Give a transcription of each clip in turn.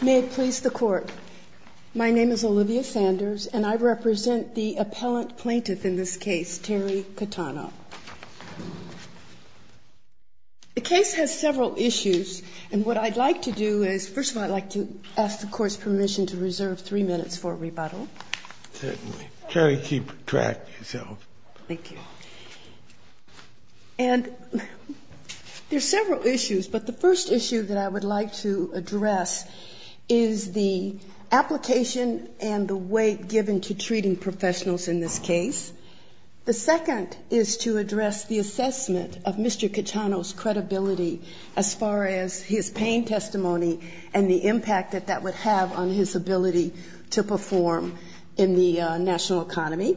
May it please the Court. My name is Olivia Sanders, and I represent the appellant plaintiff in this case, Terry Cattano. The case has several issues, and what I'd like to do is, first of all, I'd like to ask the Court's permission to reserve three minutes for rebuttal. Certainly. Terry, keep track yourself. Thank you. And there's several issues, but the first issue that I would like to address is the application and the weight given to treating professionals in this case. The second is to address the assessment of Mr. Cattano's credibility as far as his pain testimony and the impact that that would have on his ability to perform in the national economy.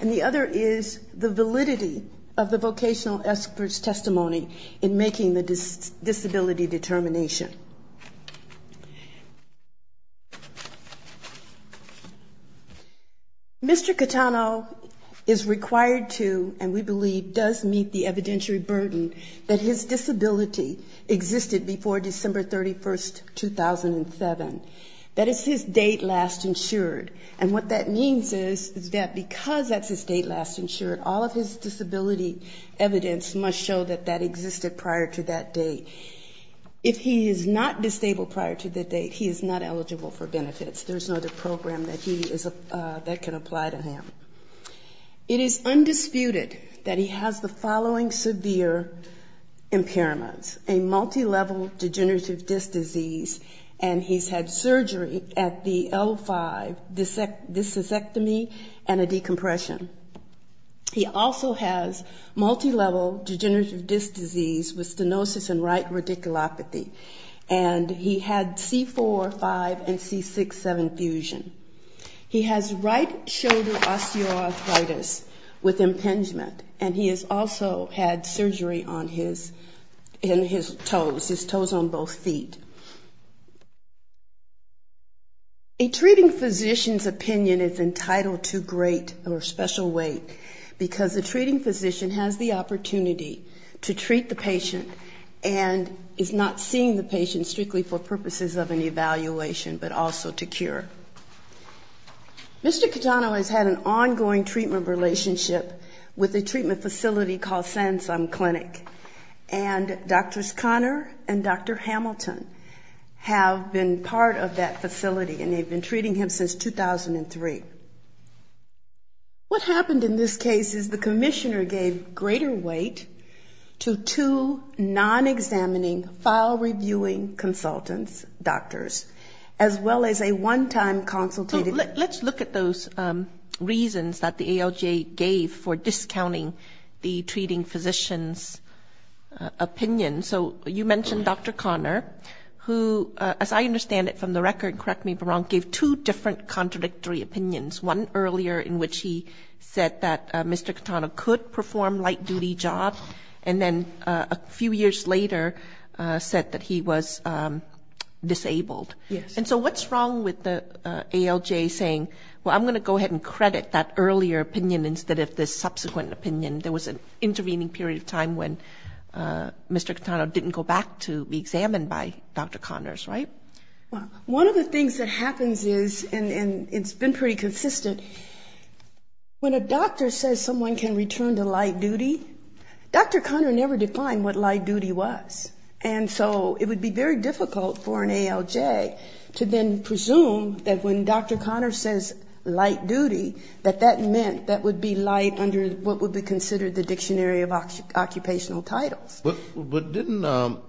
And the other is the validity of the vocational expert's testimony in making the disability determination. Mr. Cattano is required to, and we believe does meet the evidentiary burden that his disability existed before December 31, 2007. That is his date last insured, and what that means is that because that's his date last insured, all of his disability evidence must show that that existed prior to that date. If he is not disabled prior to that date, he is not eligible for benefits. There's no other program that can apply to him. It is undisputed that he has the following severe impairments. A multilevel degenerative disc disease, and he's had surgery at the L5, dyssectomy, and a decompression. He also has multilevel degenerative disc disease with stenosis and right radiculopathy. And he had C4, 5, and C6, 7 fusion. He has right shoulder osteoarthritis with impingement, and he has also had surgery on his toes, his toes on both feet. A treating physician's opinion is entitled to great or special weight, because a treating physician has the opportunity to treat the patient and is not seeing the patient strictly for purposes of an evaluation, but also to cure. Mr. Catano has had an ongoing treatment relationship with a treatment facility called Sansum Clinic, and Drs. Conner and Dr. Hamilton have been part of that facility, and they've been treating him since 2003. What happened in this case is the commissioner gave greater weight to two non-examining, file-reviewing consultants, doctors, as well as a one-time consultative. Let's look at those reasons that the ALJ gave for discounting the treating physician's opinion. So you mentioned Dr. Conner, who, as I understand it from the record, correct me if I'm wrong, gave two different contradictory opinions. One earlier in which he said that Mr. Catano could perform light-duty jobs, and then a few years later said that he was disabled. And so what's wrong with the ALJ saying, well, I'm going to go ahead and credit that earlier opinion instead of this subsequent opinion? There was an intervening period of time when Mr. Catano didn't go back to be examined by Dr. Conners, right? One of the things that happens is, and it's been pretty consistent, when a doctor says someone can return to light-duty, Dr. Conner never defined what light-duty was. And so it would be very difficult for an ALJ to then presume that when Dr. Conner says light-duty, that that meant that would be light under what would be considered the dictionary of occupational titles. But didn't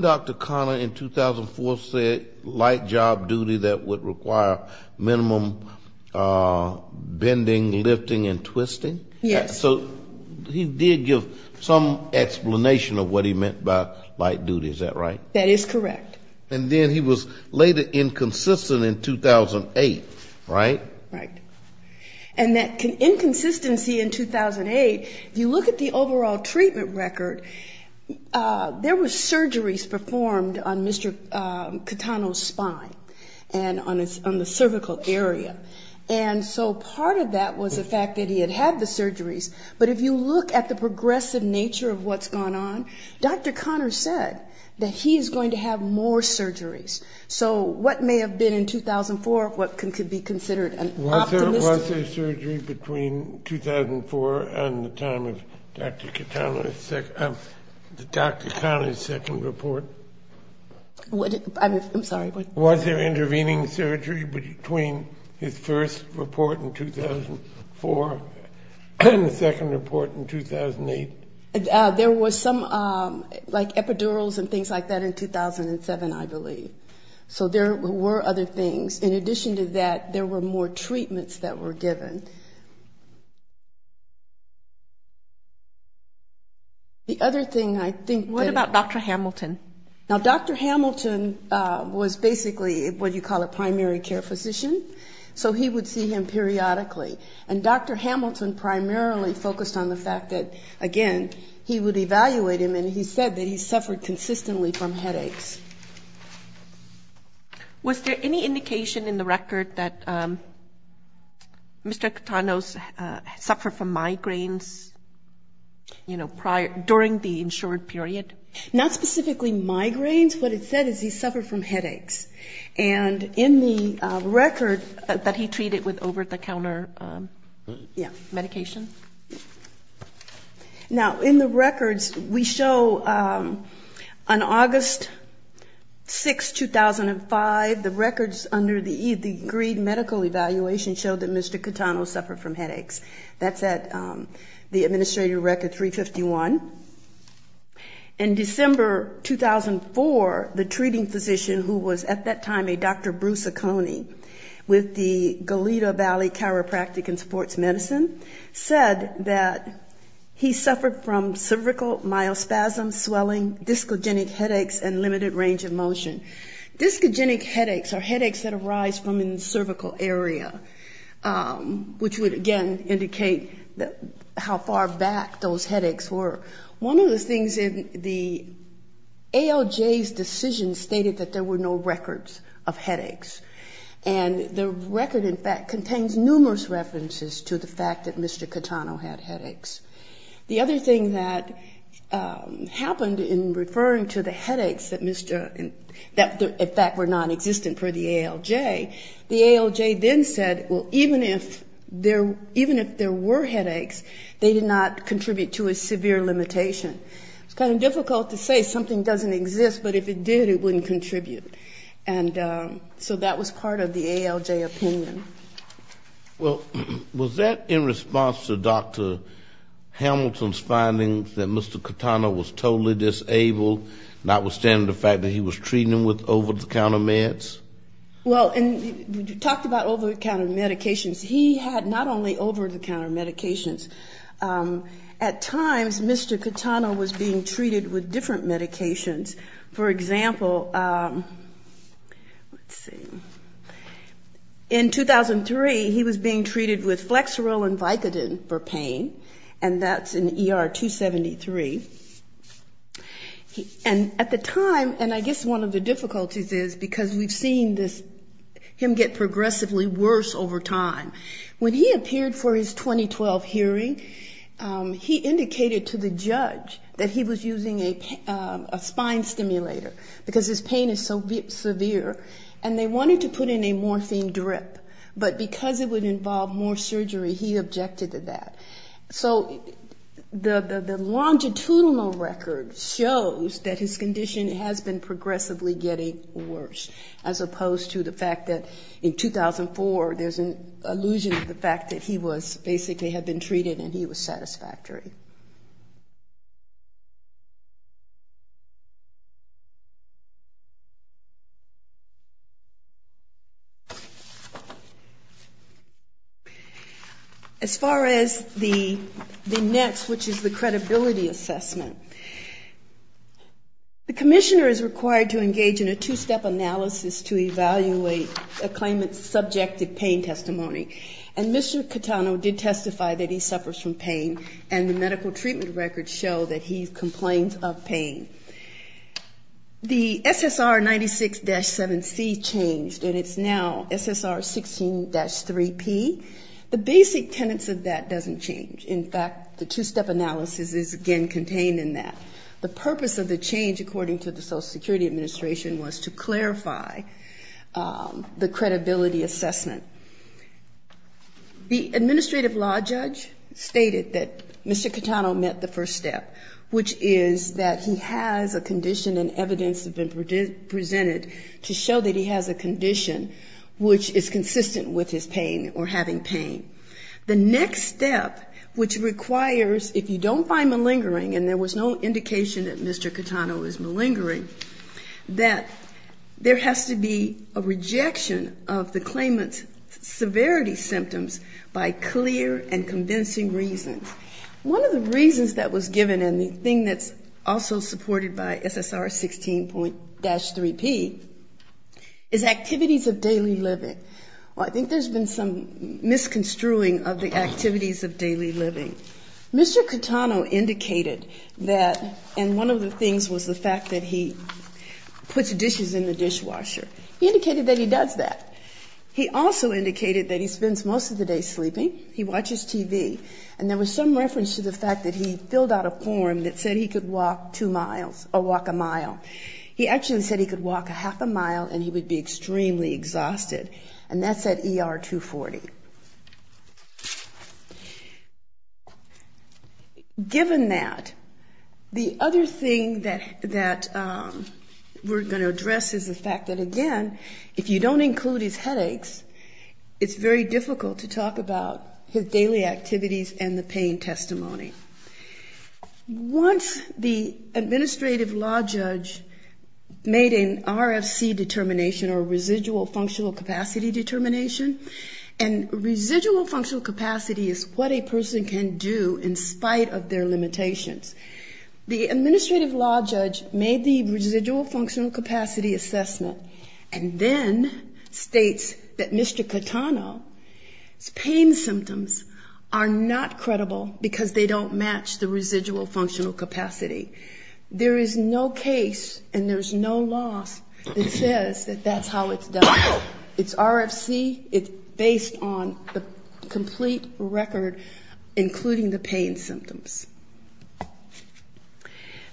Dr. Conner in 2004 say light-job duty that would require minimum bending, lifting and twisting? Yes. So he did give some explanation of what he meant by light-duty, is that right? That is correct. And then he was later inconsistent in 2008, right? Right. And that inconsistency in 2008, if you look at the overall treatment record, there were surgeries performed on Mr. Catano's spine and on the cervical area. And so part of that was the fact that he had had the surgeries, but if you look at the progressive nature of what's gone on, Dr. Conner said that he is going to have more surgeries. So what may have been in 2004, what could be considered an optimistic... Was there surgery between 2004 and the time of Dr. Conner's second report? I'm sorry, what? Was there intervening surgery between his first report in 2004 and the second report in 2008? There was some, like epidurals and things like that in 2007, I believe. So there were other things. In addition to that, there were more treatments that were given. The other thing I think that... What about Dr. Hamilton? Now, Dr. Hamilton was basically what you call a primary care physician, so he would see him periodically. And Dr. Hamilton primarily focused on the fact that, again, he would evaluate him and he said that he suffered consistently from headaches. Was there any indication in the record that Mr. Catano suffered from migraines, you know, during the insured period? Not specifically migraines, what it said is he suffered from headaches. And in the record that he treated with over-the-counter, yeah, medication. Now, in the records, we show on August 6, 2005, the records under the e-degree medical evaluation showed that Mr. Catano suffered from headaches. That's at the administrative record 351. In December 2004, the treating physician who was at that time a Dr. Bruce Acone with the Goleta Valley Chiropractic and Sports Medicine said that he suffered from cervical myospasms, swelling, discogenic headaches and limited range of motion. Discogenic headaches are headaches that arise from the cervical area, which would again indicate how far back those headaches were. One of the things in the ALJ's decision stated that there were no records of headaches. And the record, in fact, contains numerous references to the fact that Mr. Catano had headaches. The other thing that happened in referring to the headaches that, in fact, were nonexistent for the ALJ, the ALJ then said, well, even if there were headaches, they did not contribute to a severe limited range of motion. It's kind of difficult to say something doesn't exist, but if it did, it wouldn't contribute. And so that was part of the ALJ opinion. Well, was that in response to Dr. Hamilton's findings that Mr. Catano was totally disabled, notwithstanding the fact that he was treating him with over-the-counter meds? Well, and we talked about over-the-counter medications. He had not only over-the-counter medications. At times, Mr. Catano was being treated with different medications. For example, let's see, in 2003, he was being treated with flexerol and Vicodin for pain, and that's in ER 273. And at the time, and I guess one of the difficulties is because we've seen this, him get progressively worse over time. When he appeared for his 2012 hearing, he indicated to the judge that he was using a spine stimulator, because his pain is so severe, and they wanted to put in a morphine drip. But because it would involve more surgery, he objected to that. So the longitudinal record shows that his condition has been progressively getting worse, as opposed to the fact that in the conclusion of the fact that he was basically had been treated and he was satisfactory. As far as the next, which is the credibility assessment, the commissioner is required to engage in a two-step analysis to clarify the credibility assessment. And Mr. Catano did testify that he suffers from pain, and the medical treatment records show that he complains of pain. The SSR 96-7C changed, and it's now SSR 16-3P. The basic tenets of that doesn't change. In fact, the two-step analysis is again contained in that. The purpose of the change, according to the Social Security Administration, was to clarify the credibility assessment. The administrative law judge stated that Mr. Catano met the first step, which is that he has a condition and evidence have been presented to show that he has a condition which is consistent with his pain or having pain. The next step, which requires, if you don't find malingering, and there was no indication that Mr. Catano is malingering, that there has to be a rejection of the claimant's severity symptoms by clear and convincing reasons. One of the reasons that was given, and the thing that's also supported by SSR 16-3P, is activities of daily living. I think there's been some misconstruing of the activities of daily living. Mr. Catano indicated that, and one of the things was the fact that he puts dishes in the dishwasher. He indicated that he does that. He also indicated that he spends most of the day sleeping. He watches TV. And there was some reference to the fact that he filled out a form that said he could walk two miles or walk a mile. He actually said he could walk a half a mile and he would be extremely exhausted. And that's at ER 240. Given that, the other thing that we're going to address is the fact that, again, if you don't include his headaches, it's very difficult to talk about his daily activities and the pain testimony. Once the administrative law judge made an RFC determination, or residual functional capacity determination, and residual functional capacity is what a person can do in spite of their limitations. The administrative law judge made the residual functional capacity assessment and then states that Mr. Catano's pain symptoms are not credible because they don't match the residual functional capacity. There is no case and there's no loss that says that that's how it's done. It's RFC. It's based on the complete record, including the pain symptoms.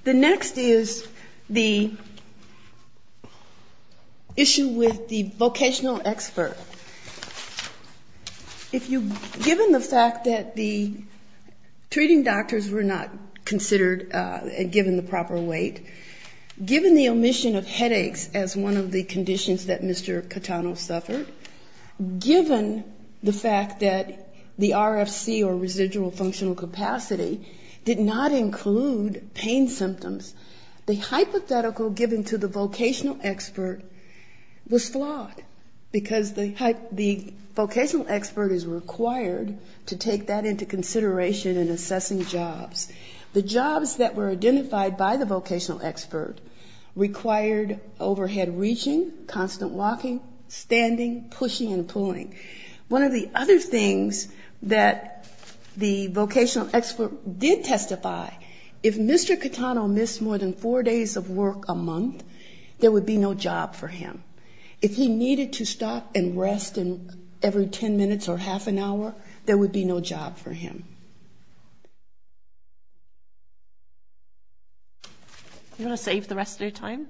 The next is the issue with the vocational expert. If you, given the fact that the treating doctors were not considered and given the proper weight, given the omission of headaches as one of the conditions that Mr. Catano suffered, given the fact that the RFC or residual functional capacity did not include pain symptoms, the hypothetical given to the vocational expert was flawed because the vocational expert is required to take that into consideration in assessing jobs. The jobs that were identified by the vocational expert required overhead reaching, constant walking, standing, pushing and pulling. One of the other things that the vocational expert did testify, if Mr. Catano missed more than four days of work a month, there would be no job for him. If he needed to stop and rest every ten minutes or half an hour, there would be no job for him. You want to save the rest of your time?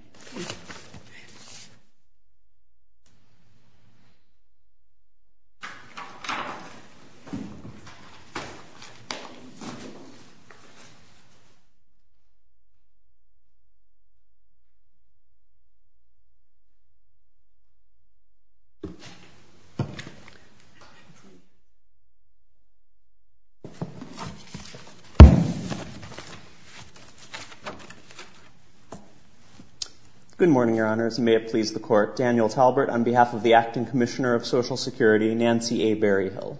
Good morning, your honors, and may it please the court. Daniel Talbert on behalf of the acting commissioner of social security, Nancy A. Berryhill.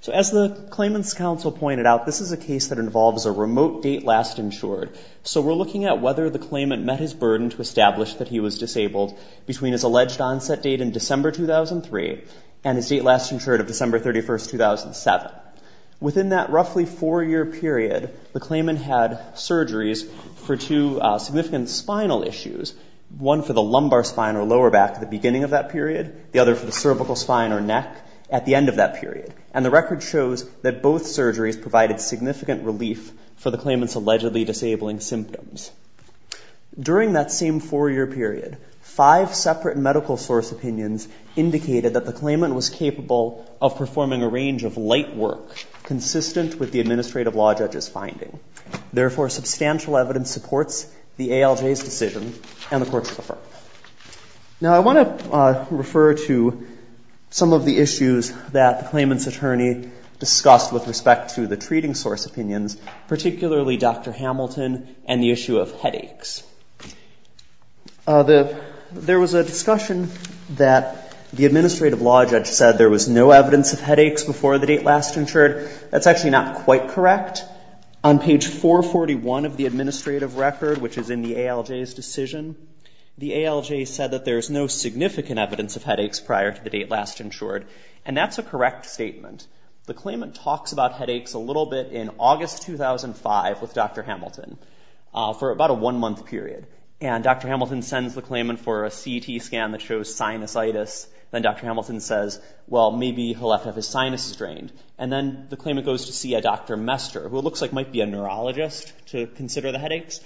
So as the claimant's counsel pointed out, this is a case that involves a remote date last insured. So we're looking at whether the claimant met his burden to establish that he was disabled between his alleged onset date in December 2003 and his date last insured of December 31st, 2007. Within that roughly four-year period, the claimant had surgeries, which would have been two surgeries for two significant spinal issues, one for the lumbar spine or lower back at the beginning of that period, the other for the cervical spine or neck at the end of that period. And the record shows that both surgeries provided significant relief for the claimant's allegedly disabling symptoms. During that same four-year period, five separate medical source opinions indicated that the claimant was capable of performing a range of light work consistent with the administrative law judge's finding. Therefore, substantial evidence supports the ALJ's decision and the court's referral. Now I want to refer to some of the issues that the claimant's attorney discussed with respect to the treating source opinions, particularly Dr. Hamilton and the issue of headaches. There was a discussion that the administrative law judge said there was no evidence of headaches prior to the date last insured. On page 441 of the administrative record, which is in the ALJ's decision, the ALJ said that there's no significant evidence of headaches prior to the date last insured. And that's a correct statement. The claimant talks about headaches a little bit in August 2005 with Dr. Hamilton for about a one-month period. And Dr. Hamilton sends the claimant for a CT scan that shows sinusitis. Then Dr. Hamilton says, well, maybe he'll have to have his doctor, who looks like might be a neurologist, to consider the headaches.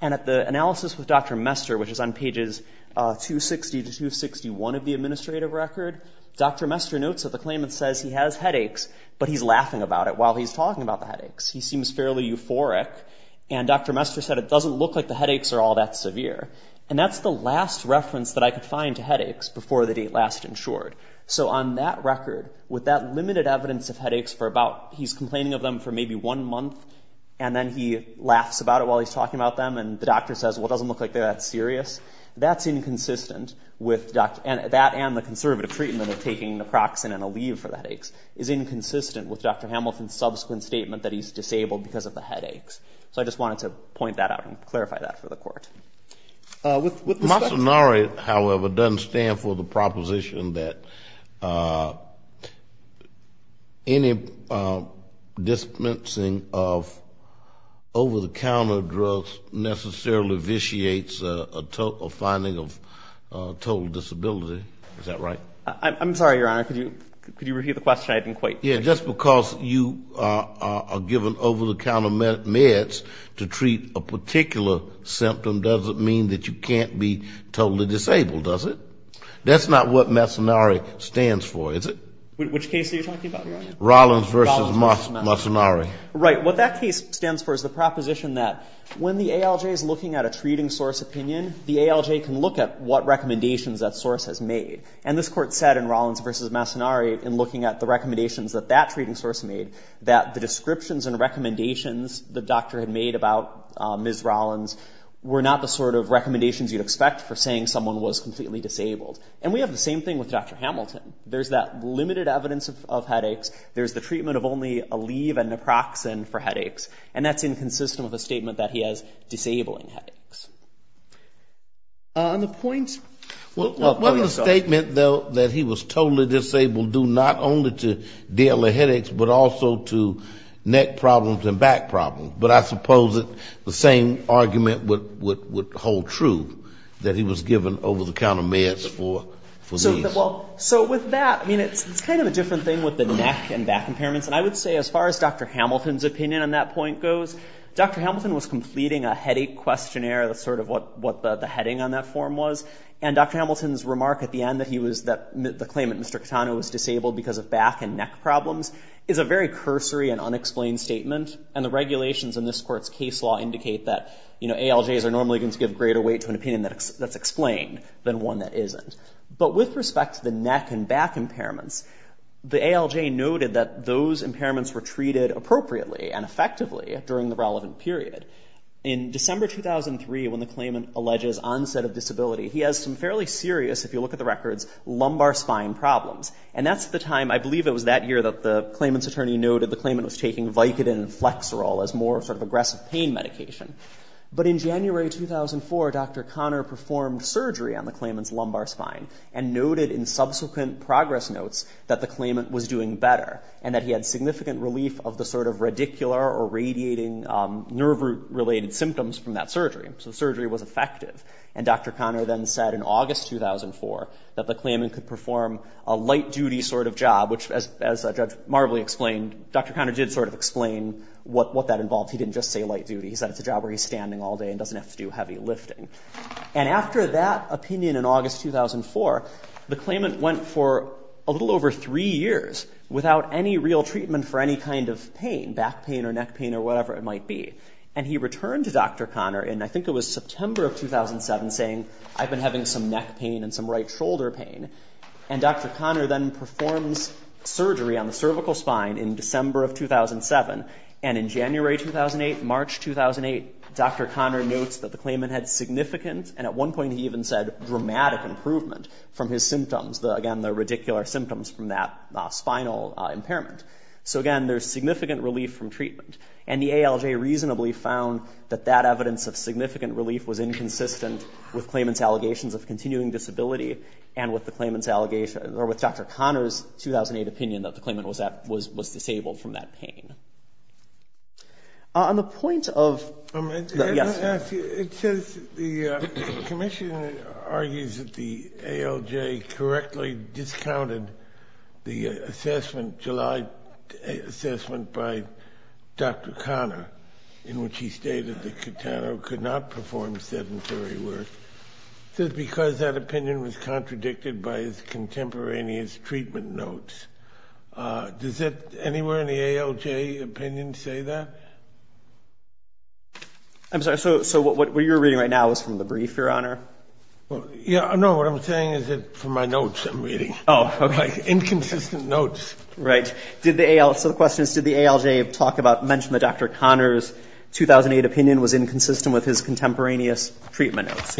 And at the analysis with Dr. Mester, which is on pages 260 to 261 of the administrative record, Dr. Mester notes that the claimant says he has headaches, but he's laughing about it while he's talking about the headaches. He seems fairly euphoric. And Dr. Mester said it doesn't look like the headaches are all that severe. And that's the last reference that I could find to headaches before the date last insured. So on that record, with that limited evidence of headaches for about, he's complaining of them for maybe one month prior to the date last insured. And then he laughs about it while he's talking about them. And the doctor says, well, it doesn't look like they're that serious. That's inconsistent with Dr. Hamilton. And that and the conservative treatment of taking naproxen and a leave for the headaches is inconsistent with Dr. Hamilton's subsequent statement that he's disabled because of the headaches. So I just wanted to point that out and clarify that for the court. With respect to... Over-the-counter drugs necessarily vitiates a finding of total disability. Is that right? I'm sorry, Your Honor. Could you repeat the question? I didn't quite... Yeah, just because you are given over-the-counter meds to treat a particular symptom doesn't mean that you can't be totally disabled, does it? That's not what masonary stands for, is it? Rollins versus masonary. When the ALJ is looking at a treating source opinion, the ALJ can look at what recommendations that source has made. And this court said in Rollins versus masonary, in looking at the recommendations that that treating source made, that the descriptions and recommendations the doctor had made about Ms. Rollins were not the sort of recommendations you'd expect for saying someone was completely disabled. And we have the same thing with Dr. Hamilton. There's that limited evidence of that. There's the treatment of only Aleve and naproxen for headaches. And that's inconsistent with a statement that he has disabling headaches. Wasn't the statement, though, that he was totally disabled due not only to daily headaches, but also to neck problems and back problems? But I suppose the same argument would hold true, that he was given over-the-counter meds for these. Well, so with that, I mean, it's kind of a different thing with the neck and back impairments. And I would say as far as Dr. Hamilton's opinion on that point goes, Dr. Hamilton was completing a headache questionnaire. That's sort of what the heading on that form was. And Dr. Hamilton's remark at the end that he was, that the claimant, Mr. Catano, was disabled because of back and neck problems, is a very cursory and unexplained statement. And the regulations in this court's case law indicate that ALJs are normally going to give greater weight to an opinion that's explained than one that isn't. But when we look at the neck and back impairments, the ALJ noted that those impairments were treated appropriately and effectively during the relevant period. In December 2003, when the claimant alleges onset of disability, he has some fairly serious, if you look at the records, lumbar spine problems. And that's the time, I believe it was that year that the claimant's attorney noted the claimant was taking Vicodin and Flexerol as more sort of aggressive pain medication. But in January 2004, Dr. Conner said that the claimant had a severe pain in the lumbar spine and noted in subsequent progress notes that the claimant was doing better. And that he had significant relief of the sort of radicular or radiating nerve root related symptoms from that surgery. So surgery was effective. And Dr. Conner then said in August 2004 that the claimant could perform a light duty sort of job, which as Judge Marbley explained, Dr. Conner did sort of explain what that involved. He didn't just say light duty. He said it's a job where he's standing all day and doesn't have to do heavy lifting. And after that opinion in August 2004, the claimant went for a little over three years without any real treatment for any kind of pain, back pain or neck pain or whatever it might be. And he returned to Dr. Conner in, I think it was September of 2007, saying I've been having some neck pain and some right shoulder pain. And Dr. Conner then performs surgery on the cervical spine in December of 2007. And in January 2008, March 2008, Dr. Conner notes that the claimant had significant and at one point he even said dramatic improvement from his symptoms. Again, the radicular symptoms from that spinal impairment. So again, there's significant relief from treatment. And the ALJ reasonably found that that evidence of significant relief was inconsistent with claimant's allegations of continuing disability and with Dr. Conner's 2008 opinion that the claimant was disabled from that pain. On the point of, yes. It says the commission argues that the ALJ correctly discounted the assessment, July assessment, by Dr. Conner in which he stated that Catano could not perform sedentary work because that opinion was contradicted by his contemporaneous treatment notes. Does it anywhere in the ALJ opinion say that? I'm sorry. So what you're reading right now is from the brief, Your Honor? No, what I'm saying is that from my notes I'm reading. Oh, okay. Inconsistent notes. Right. So the question is, did the ALJ talk about, mention that Dr. Conner's 2008 opinion was inconsistent with his contemporaneous treatment notes?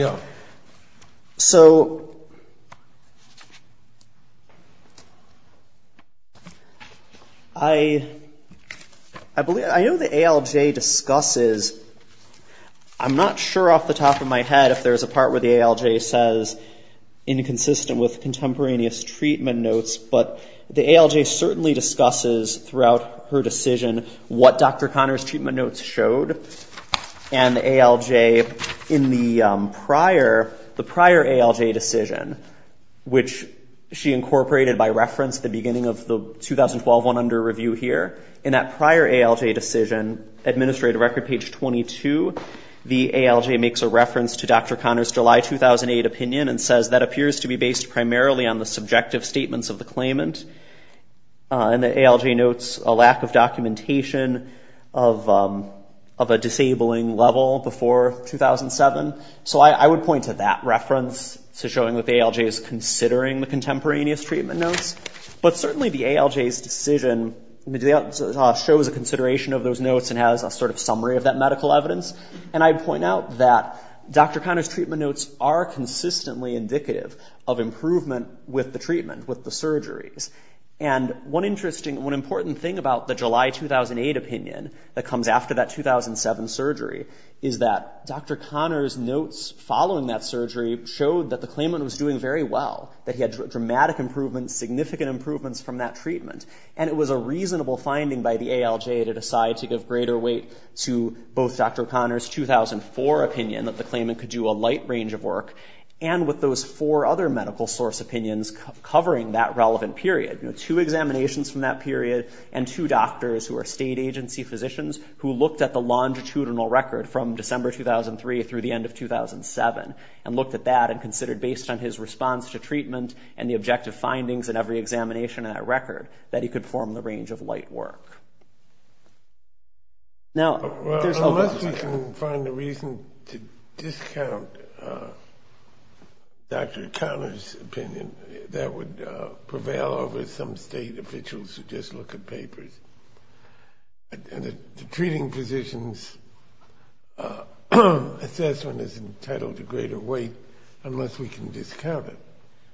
I, I believe, I know the ALJ discusses, I'm not sure off the top of my head if there's a part where the ALJ says inconsistent with contemporaneous treatment notes, but the ALJ certainly discusses throughout her decision what Dr. Conner's treatment notes showed. And the ALJ in the prior, the prior ALJ decision, which she incorporated in by reference at the beginning of the 2012 one under review here, in that prior ALJ decision, Administrative Record page 22, the ALJ makes a reference to Dr. Conner's July 2008 opinion and says that appears to be based primarily on the subjective statements of the claimant. And the ALJ notes a lack of documentation of, of a disabling level before 2007. So I, I would point to that reference to showing that the ALJ is considering the contemporaneous treatment notes, but certainly the ALJ's decision shows a consideration of those notes and has a sort of summary of that medical evidence. And I'd point out that Dr. Conner's treatment notes are consistently indicative of improvement with the treatment, with the surgeries. And one interesting, one important thing about the July 2008 opinion that comes after that 2007 surgery is that Dr. Conner's notes following that surgery showed that the treatment was a significant improvement, significant improvements from that treatment. And it was a reasonable finding by the ALJ to decide to give greater weight to both Dr. Conner's 2004 opinion that the claimant could do a light range of work and with those four other medical source opinions covering that relevant period. You know, two examinations from that period and two doctors who are state agency physicians who looked at the longitudinal record from December 2003 through the end of 2007 and looked at that and considered based on his response to treatment and the objective findings in every examination in that record that he could form the range of light work. Now, there's a lot of... Unless we can find a reason to discount Dr. Conner's opinion, that would prevail over some state officials who just look at papers. And the treating physicians assessment is entitled to greater weight unless we can discount it.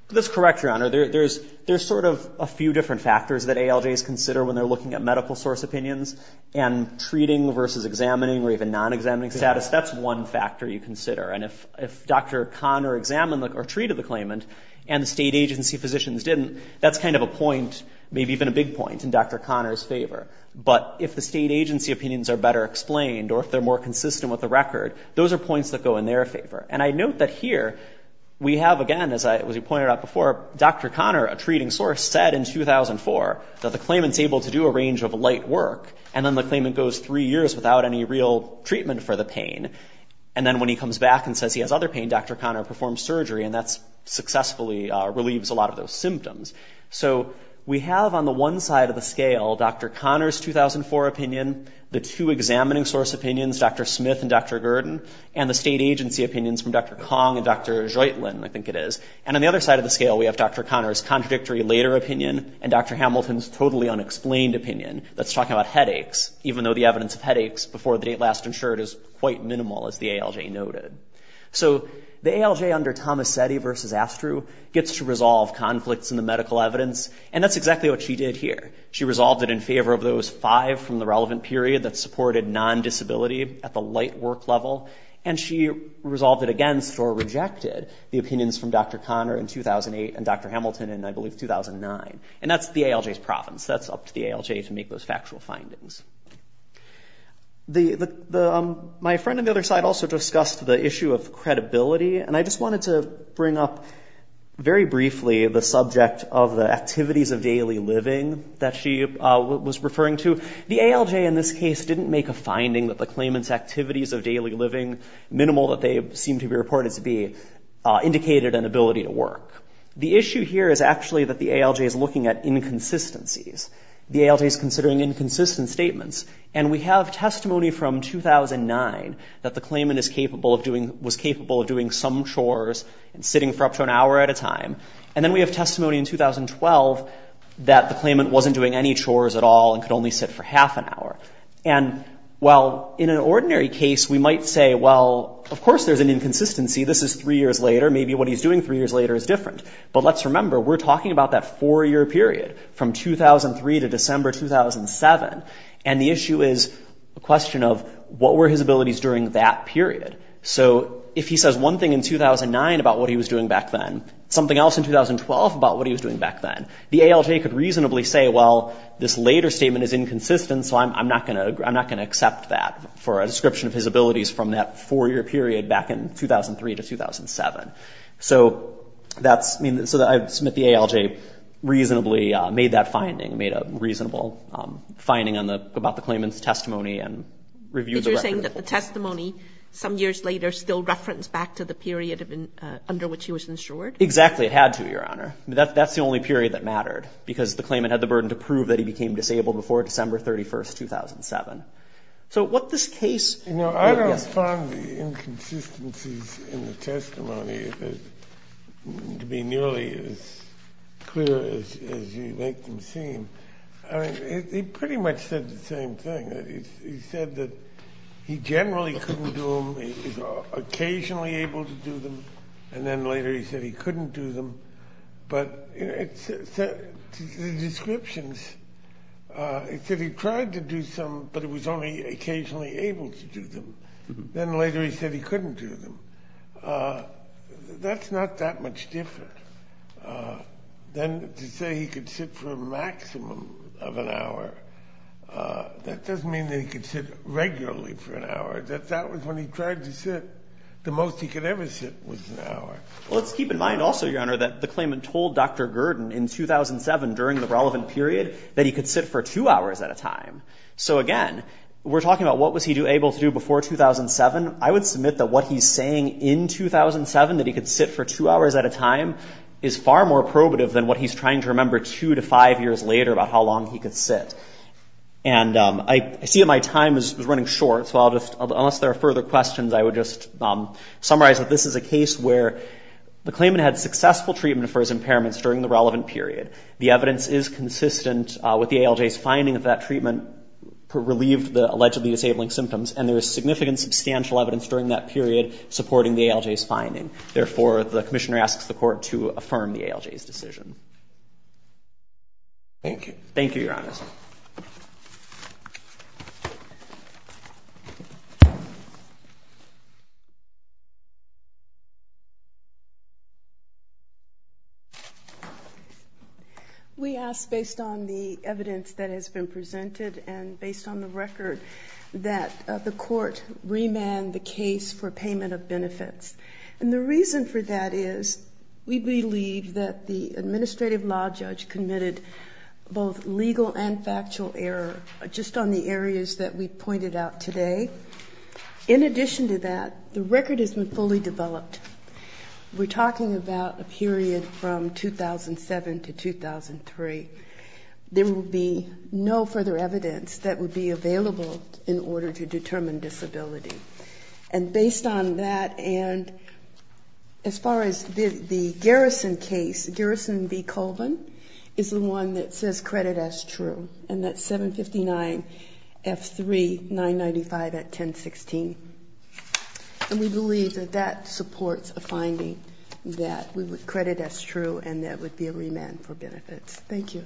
That's correct, Your Honor. There's sort of a few different factors that ALJs consider when they're looking at medical source opinions and treating versus examining or even non-examining status. That's one factor you consider. And if Dr. Conner examined or treated the claimant and the state agency physicians didn't, that's kind of a point, maybe even a big point, in Dr. Conner's favor. But if the state agency opinions are better explained or if they're more consistent with the record, those are points that go in their favor. And I note that here we have, again, as you pointed out, before, Dr. Conner, a treating source, said in 2004 that the claimant's able to do a range of light work and then the claimant goes three years without any real treatment for the pain. And then when he comes back and says he has other pain, Dr. Conner performs surgery and that successfully relieves a lot of those symptoms. So we have on the one side of the scale Dr. Conner's 2004 opinion, the two examining source opinions, Dr. Smith and Dr. Conner. On the other side of the scale we have Dr. Conner's contradictory later opinion and Dr. Hamilton's totally unexplained opinion that's talking about headaches, even though the evidence of headaches before the date last insured is quite minimal, as the ALJ noted. So the ALJ under Tomasetti versus Astru gets to resolve conflicts in the medical evidence. And that's exactly what she did here. She resolved it in favor of those five from the relevant period that supported non-disability at the light work level. And she resolved it against or rejected the opinions from Dr. Conner in 2008 and 2009. And that's the ALJ's province. That's up to the ALJ to make those factual findings. My friend on the other side also discussed the issue of credibility. And I just wanted to bring up very briefly the subject of the activities of daily living that she was referring to. The ALJ in this case didn't make a finding that the claimant's activities of daily living, minimal that they seem to be reported to be, indicated an ability to work. The issue here is actually that the ALJ is looking at inconsistencies. The ALJ is considering inconsistent statements. And we have testimony from 2009 that the claimant was capable of doing some chores and sitting for up to an hour at a time. And then we have testimony in 2012 that the claimant wasn't doing any chores at all and could only sit for half an hour. And while in an ordinary case we might say, well, of course there's an inconsistency. This is three years later. Maybe what he's doing three years later is different. But let's remember, we're talking about that four-year period from 2003 to December 2007. And the issue is a question of what were his abilities during that period. So if he says one thing in 2009 about what he was doing back then, something else in 2012 about what he was doing back then, the ALJ could reasonably say, well, this later statement is inconsistent, so I'm not going to accept that for a description of his abilities from that four-year period back in 2003 to 2007. So that's, I mean, so I submit the ALJ reasonably made that finding, made a reasonable finding on the, about the claimant's testimony and reviewed the record. But you're saying that the testimony some years later still referenced back to the period under which he was insured? Exactly. It had to, Your Honor. That's the only period that mattered because the claimant had the burden to prove that he became disabled before December 31, 2007. So what this case... You know, I don't find the inconsistencies in the testimony to be nearly as clear as you make them seem. I mean, he pretty much said the same thing. He said that he generally couldn't do them, he was occasionally able to do them, and then later he said he couldn't do them. But the descriptions, it said he tried to do some, but it was only occasionally able to do them. Then later he said he couldn't do them. That's not that much different. Then to say he could sit for a maximum of an hour, that doesn't mean that he could sit regularly for an hour. That that was when he tried to sit, the most he could ever sit was an hour. Well, let's keep in mind also, Your Honor, that the claimant told Dr. Gurdon in 2007 during the relevant period that he could sit for two hours at a time. I would submit that what he's saying in 2007, that he could sit for two hours at a time, is far more probative than what he's trying to remember two to five years later about how long he could sit. And I see that my time is running short, so I'll just, unless there are further questions, I would just summarize that this is a case where the claimant had successful treatment for his impairments during the relevant period. The evidence is consistent with the ALJ's finding of that treatment relieved the allegedly disabling symptoms, and there is significant substantial evidence during that period supporting the ALJ's finding. Therefore, the Commissioner asks the Court to affirm the ALJ's decision. Thank you. Thank you, Your Honor. We ask, based on the evidence that has been presented and based on the record, that the Court remand the case for payment of benefits. And the reason for that is we believe that the Administrative Law Judge committed both of these legal and factual error, just on the areas that we pointed out today. In addition to that, the record has been fully developed. We're talking about a period from 2007 to 2003. There will be no further evidence that would be available in order to determine disability. And based on that and as far as the Garrison case, Garrison v. Colvin is the one that says credit as true. And that's 759 F3 995 at 1016. And we believe that that supports a finding that credit as true and that would be a remand for benefits. Thank you.